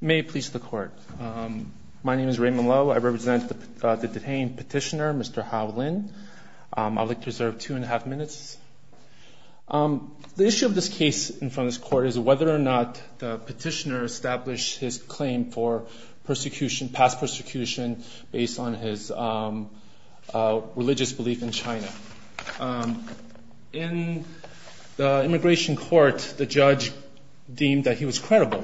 May it please the court. My name is Raymond Lo. I represent the detained petitioner, Mr. Hao Lin. I'll like to reserve two and a half minutes. The issue of this case in front of this court is whether or not the petitioner established his claim for persecution, past persecution, based on his religious belief in China. In the immigration court, the judge deemed that he was credible.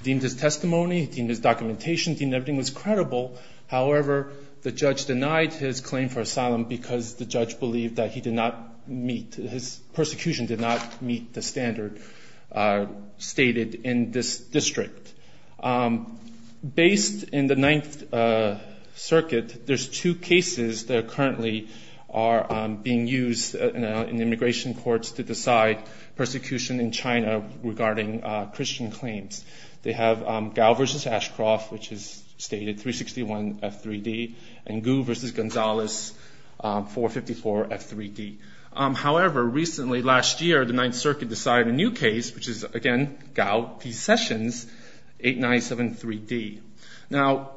He deemed his testimony, he deemed his documentation, he deemed everything was credible. However, the judge denied his claim for asylum because the judge believed that he did not meet, his persecution did not meet the standard stated in this district. Based in the Ninth Circuit, there's two cases that currently are being used in immigration courts to decide persecution in China regarding Christian claims. They have Gao versus Ashcroft, which is stated 361 F3D, and Gu versus Gonzalez, 454 F3D. However, recently, last year, the Ninth Circuit decided a new case, which is again, Gao v. Sessions, 8973D. Now,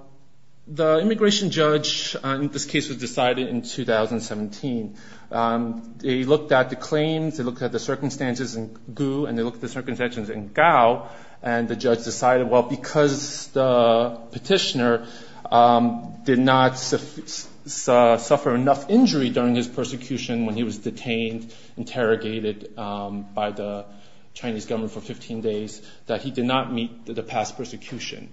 the immigration judge in this case was decided in 2017. They looked at the claims, they looked at the circumstances in Gu, and they looked at the circumstances in Gao, and the judge decided, well, because the petitioner did not suffer enough injury during his persecution when he was detained, interrogated by the Chinese government for 15 days, that he did not meet the past persecution.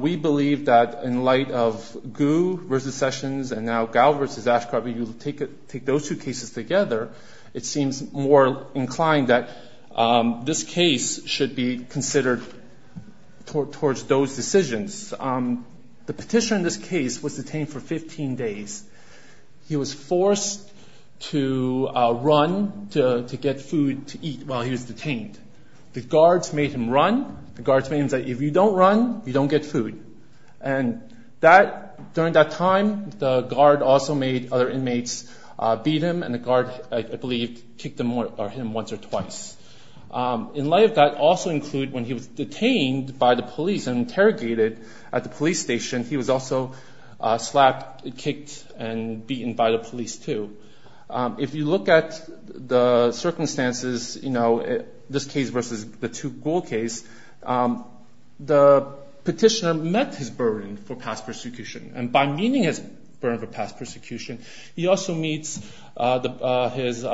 We believe that in light of Gu versus Sessions, and now Gao versus Ashcroft, when you take those two cases together, it seems more inclined that this case should be considered towards those decisions. The petitioner in this case was detained for 15 days. He was forced to run to get food to eat while he was detained. The guards made him run. The guards made him say, if you don't run, you don't get food. And during that time, the guard also made other inmates beat him, and the guard, I believe, kicked him once or twice. In light of that, also include when he was detained by the police and this case versus the two Gao case, the petitioner met his burden for past persecution. And by meeting his burden for past persecution, he also meets his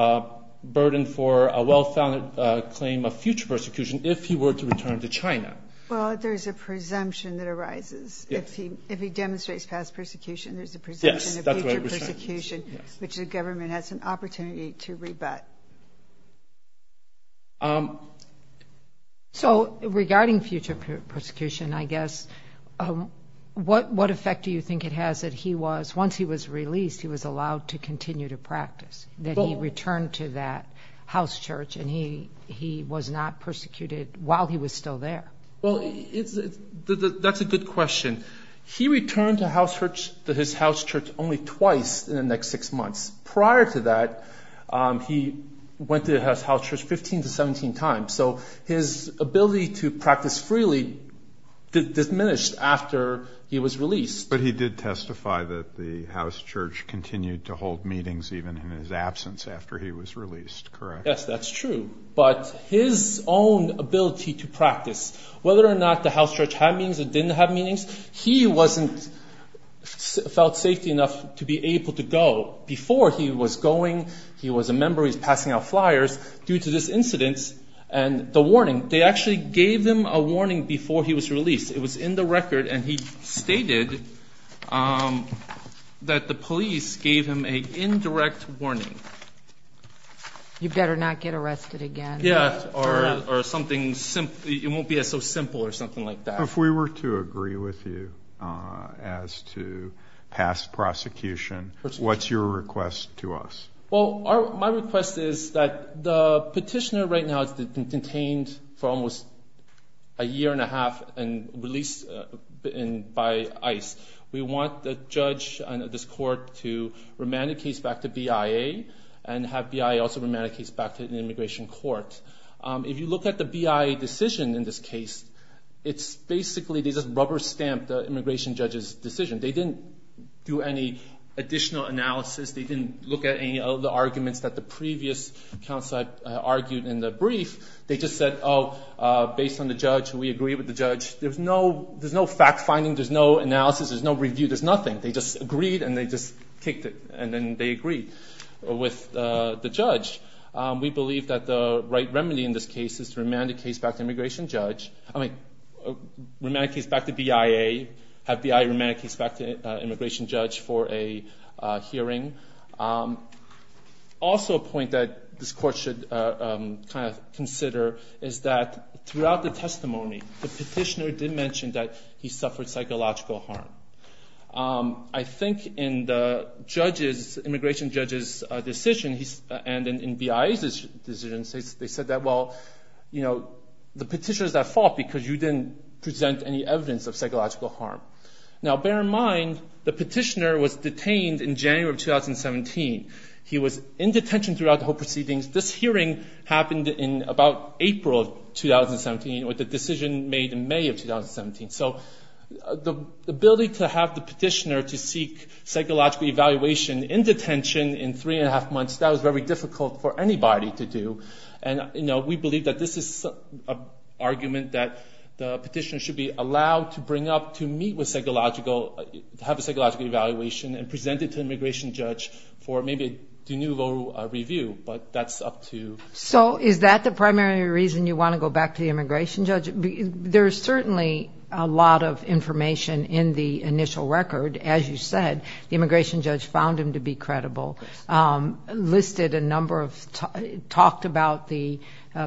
burden for a well-founded claim of future persecution if he were to return to China. Well, there's a presumption that arises. If he demonstrates past persecution, there's a presumption of future persecution, which the government has an issue with that. So regarding future persecution, I guess, what effect do you think it has that he was, once he was released, he was allowed to continue to practice, that he returned to that house church and he was not persecuted while he was still there? Well, that's a good question. He returned to his house church only twice in the next six months. Prior to that, he went to his house church 15 to 17 times. So his ability to practice freely diminished after he was released. But he did testify that the house church continued to hold meetings even in his absence after he was released, correct? Yes, that's true. But his own ability to practice, whether or not the house church had meetings or didn't have meetings, he wasn't felt safety enough to be able to go. Before he was going, he was a member, he was passing out flyers. Due to this incidence and the warning, they actually gave him a warning before he was released. It was in the record, and he stated that the police gave him an indirect warning. You better not get arrested again. Yeah, or something, it won't be so simple or something like that. If we were to agree with you as to pass prosecution, what's your request to us? Well, my request is that the petitioner right now has been contained for almost a year and a half and released by ICE. We want the judge and this court to remand the case back to BIA and have BIA also remand the case back to the immigration court. If you look at the BIA decision in this case, it's basically they just rubber-stamped the immigration judge's decision. They didn't do any additional analysis. They didn't look at any of the arguments that the previous counsel argued in the brief. They just said, oh, based on the judge, we agree with the judge. There's no fact-finding. There's no analysis. There's no review. There's nothing. They just agreed, and they just kicked it, and then they agreed with the judge. We believe that the right remedy in this case is to remand the case back to immigration judge, I mean remand the case back to BIA, have BIA remand the case back to immigration judge for a hearing. Also a point that this court should kind of consider is that throughout the testimony, the petitioner did mention that he suffered psychological harm. I think in the immigration judge's decision and in BIA's decision, they said that, well, the petitioner is at fault because you didn't present any evidence of psychological harm. Now, bear in mind, the petitioner was detained in January of 2017. He was in detention throughout the whole proceedings. This hearing happened in about April of 2017 with the decision made in May of 2017. So the ability to have the petitioner to seek psychological evaluation in detention in three and a half months, that was very difficult for anybody to do. And we believe that this is an argument that the petitioner should be So is that the primary reason you want to go back to the immigration judge? There's certainly a lot of information in the initial record. As you said, the immigration judge found him to be credible, listed a number of, talked about the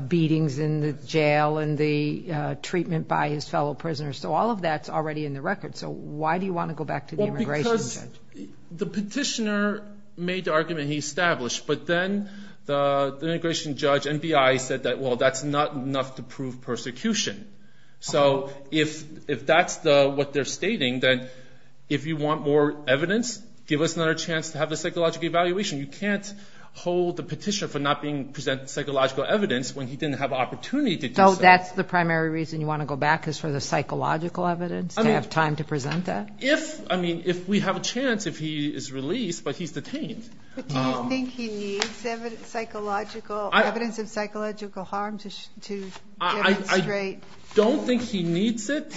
beatings in the jail and the treatment by his fellow prisoners. So all of that's already in the record. So why do you want to go back to the immigration judge? Because the petitioner made the argument he established, but then the immigration judge and BIA said that, well, that's not enough to prove persecution. So if that's what they're stating, then if you want more evidence, give us another chance to have a psychological evaluation. You can't hold the petitioner for not presenting psychological evidence when he didn't have an opportunity to do so. So that's the primary reason you want to go back is for the psychological evidence, to have time to present that? If, I mean, if we have a chance, if he is released, but he's detained. But do you think he needs evidence of psychological harm to demonstrate past persecution? I don't think he needs it.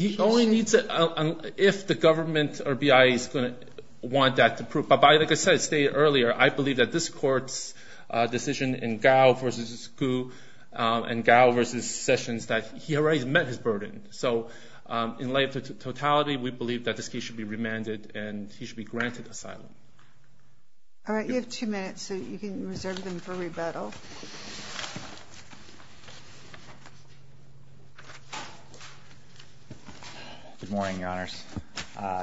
He only needs it if the government or BIA is going to want that to prove. But like I said earlier, I believe that this court's and Gao versus Sessions, that he already met his burden. So in light of the totality, we believe that this case should be remanded and he should be granted asylum. All right, you have two minutes, so you can reserve them for rebuttal. Good morning, Your Honors.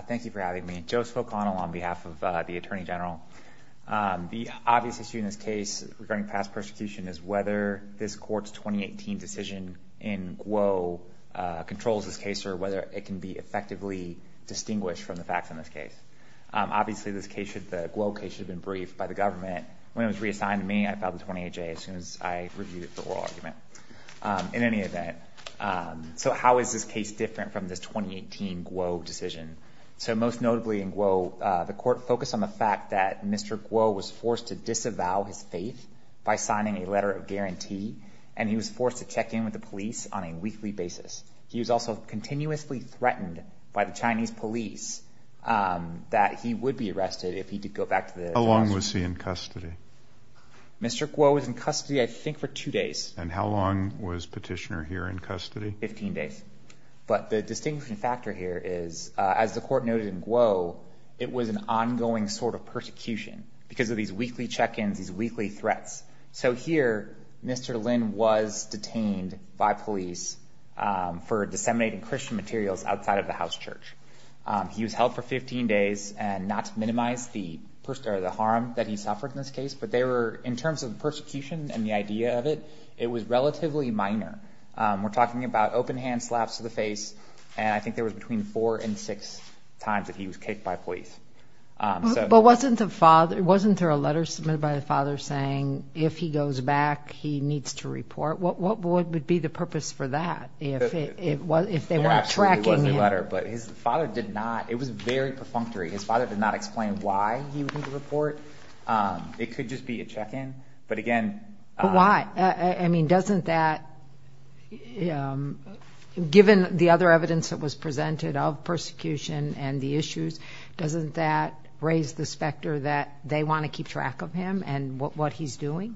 Thank you for having me. Joe Spokano on behalf of the Attorney General. The obvious issue in this case regarding past persecution is whether this court's 2018 decision in Guo controls this case or whether it can be effectively distinguished from the facts in this case. Obviously, this case, the Guo case, should have been briefed by the government. When it was reassigned to me, I filed the 28-J as soon as I reviewed the oral argument. In any event, so how is this case different from this 2018 Guo decision? So most notably in Guo, the court focused on the fact that Mr. Guo was forced to disavow his faith by signing a letter of guarantee, and he was forced to check in with the police on a weekly basis. He was also continuously threatened by the Chinese police that he would be arrested if he did go back to the How long was he in custody? Mr. Guo was in custody, I think, for two days. And how long was Petitioner here in custody? 15 days. But the distinguishing factor here is, as the court noted in Guo, it was an ongoing sort of persecution because of these weekly check-ins, these weekly threats. So here, Mr. Lin was detained by police for disseminating Christian materials outside of the house church. He was held for 15 days and not to minimize the harm that he suffered in this case, but they were, in terms of persecution and the idea of it, it was relatively minor. We're talking about open hand slaps to the face, and I think there was between four and six times that he was kicked by police. But wasn't there a letter submitted by the father saying, if he goes back, he needs to report? What would be the purpose for that? It absolutely was a letter, but his father did not, it was very perfunctory. His father did not explain why he would need to report. It could just be a check-in, but again... But doesn't that, given the other evidence that was presented of persecution and the issues, doesn't that raise the specter that they want to keep track of him and what he's doing?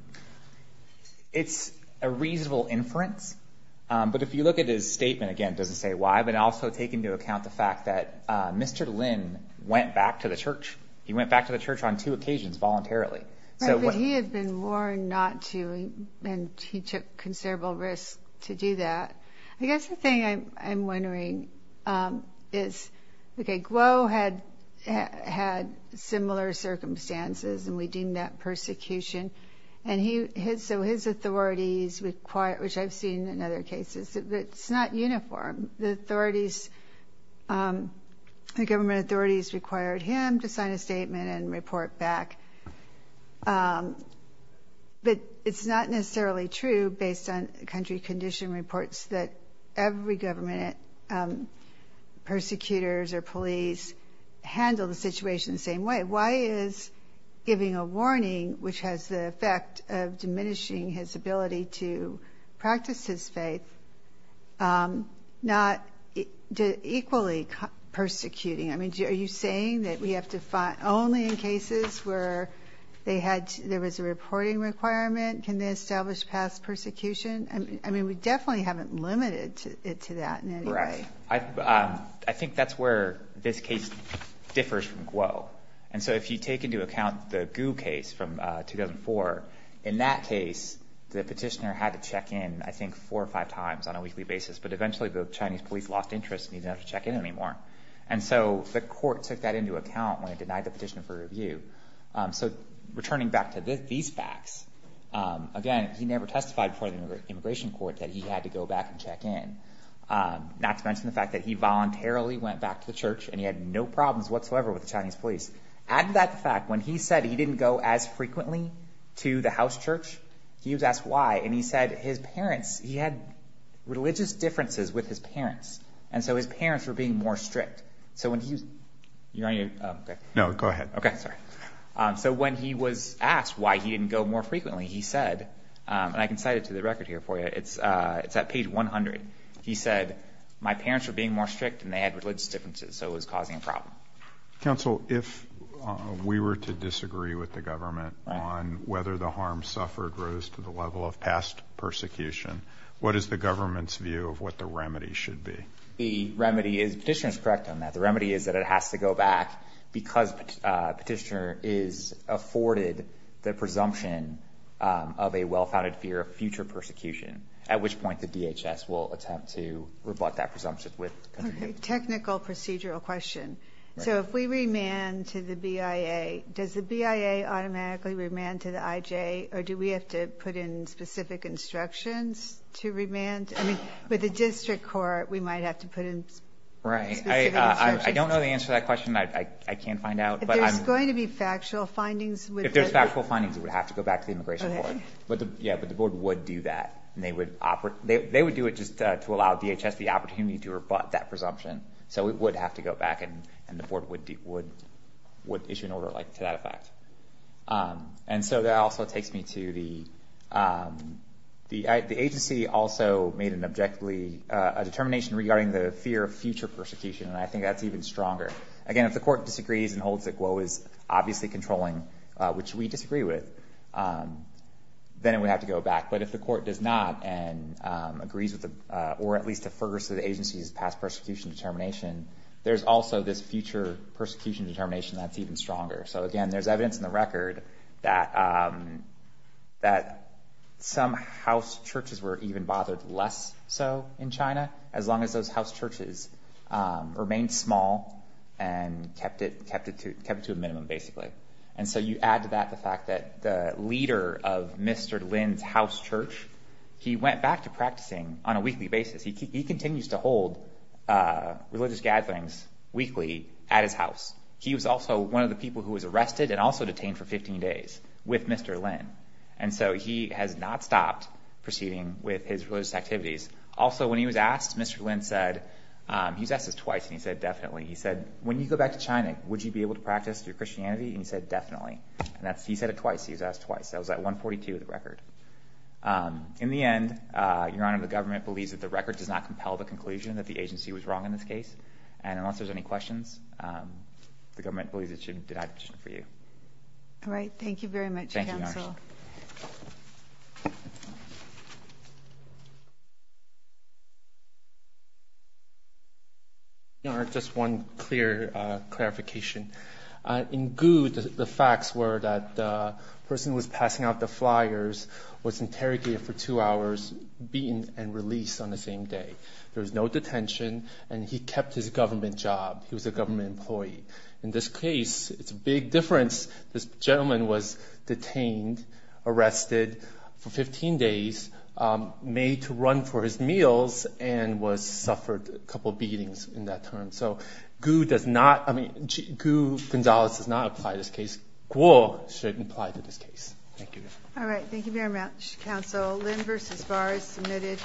It's a reasonable inference, but if you look at his statement, again, it doesn't say why, but also take into account the fact that Mr. Lin went back to the church. He went back to the church on two occasions voluntarily. Right, but he had been warned not to, and he took considerable risk to do that. I guess the thing I'm wondering is, okay, Guo had similar circumstances, and we deem that persecution. And so his authorities, which I've seen in other cases, it's not uniform. The authorities, the government authorities required him to sign a statement and report back. But it's not necessarily true, based on country condition reports, that every government, persecutors or police, handle the situation the same way. Why is giving a warning, which has the effect of diminishing his ability to practice his faith, not equally persecuting? Are you saying that we have to find... Only in cases where there was a reporting requirement can they establish past persecution? I mean, we definitely haven't limited it to that in any way. I think that's where this case differs from Guo. And so if you take into account the Gu case from 2004, in that case the petitioner had to check in, I think, four or five times on a weekly basis. But eventually the Chinese police lost interest and he didn't have to check in anymore. And so the court took that into account when it denied the petitioner for review. So returning back to these facts, again, he never testified before the immigration court that he had to go back and check in. Not to mention the fact that he voluntarily went back to the church and he had no problems whatsoever with the Chinese police. Add to that the fact when he said he didn't go as frequently to the house church, he was asked why. And he said his parents, he had religious differences with his parents. And so his parents were being more strict. So when he was... No, go ahead. Okay, sorry. So when he was asked why he didn't go more frequently, he said, and I can cite it to the record here for you, it's at page 100. He said, my parents were being more strict and they had religious differences. So it was causing a problem. Counsel, if we were to disagree with the government on whether the harm suffered rose to the level of past persecution, what is the government's view of what the remedy should be? The remedy is, petitioner is correct on that. The remedy is that it has to go back because petitioner is afforded the presumption of a well-founded fear of future persecution. At which point the DHS will attempt to rebut that presumption. Technical procedural question. So if we remand to the BIA, does the BIA automatically remand to the IJ, or do we have to put in specific instructions to remand? I mean, with the district court, we might have to put in specific instructions. Right. I don't know the answer to that question. I can't find out. If there's going to be factual findings... If there's factual findings, it would have to go back to the immigration court. Yeah, but the board would do that. They would do it just to allow DHS the opportunity to rebut that presumption. So it would have to go back, and the board would issue an order to that effect. And so that also takes me to the agency also made an objectively determination regarding the fear of future persecution, and I think that's even stronger. Again, if the court disagrees and holds that Guo is obviously controlling, which we disagree with, then it would have to go back. But if the court does not and agrees with or at least defers to the agency's past persecution determination, there's also this future persecution determination that's even stronger. So, again, there's evidence in the record that some house churches were even bothered less so in China, as long as those house churches remained small and kept it to a minimum, basically. And so you add to that the fact that the leader of Mr. Lin's house church, he went back to practicing on a weekly basis. He continues to hold religious gatherings weekly at his house. He was also one of the people who was arrested and also detained for 15 days with Mr. Lin. And so he has not stopped proceeding with his religious activities. Also, when he was asked, Mr. Lin said, he was asked this twice, and he said, definitely. He said, when you go back to China, would you be able to practice your Christianity? And he said, definitely. And he said it twice. He was asked twice. That was at 142 of the record. In the end, Your Honor, the government believes that the record does not compel the conclusion that the agency was wrong in this case. And unless there's any questions, the government believes it should deny the petition for you. All right. Thank you very much, counsel. Thank you, Your Honor. Your Honor, just one clear clarification. In Gu, the facts were that the person who was passing out the flyers was interrogated for two hours, beaten, and released on the same day. There was no detention, and he kept his government job. He was a government employee. In this case, it's a big difference. This gentleman was detained, arrested for 15 days, made to run for his meals, and suffered a couple of beatings in that time. So Gu does not – I mean, Gu Gonzalez does not apply to this case. Gu should apply to this case. Thank you. All right. Thank you very much, counsel. Lin v. Barr is submitted.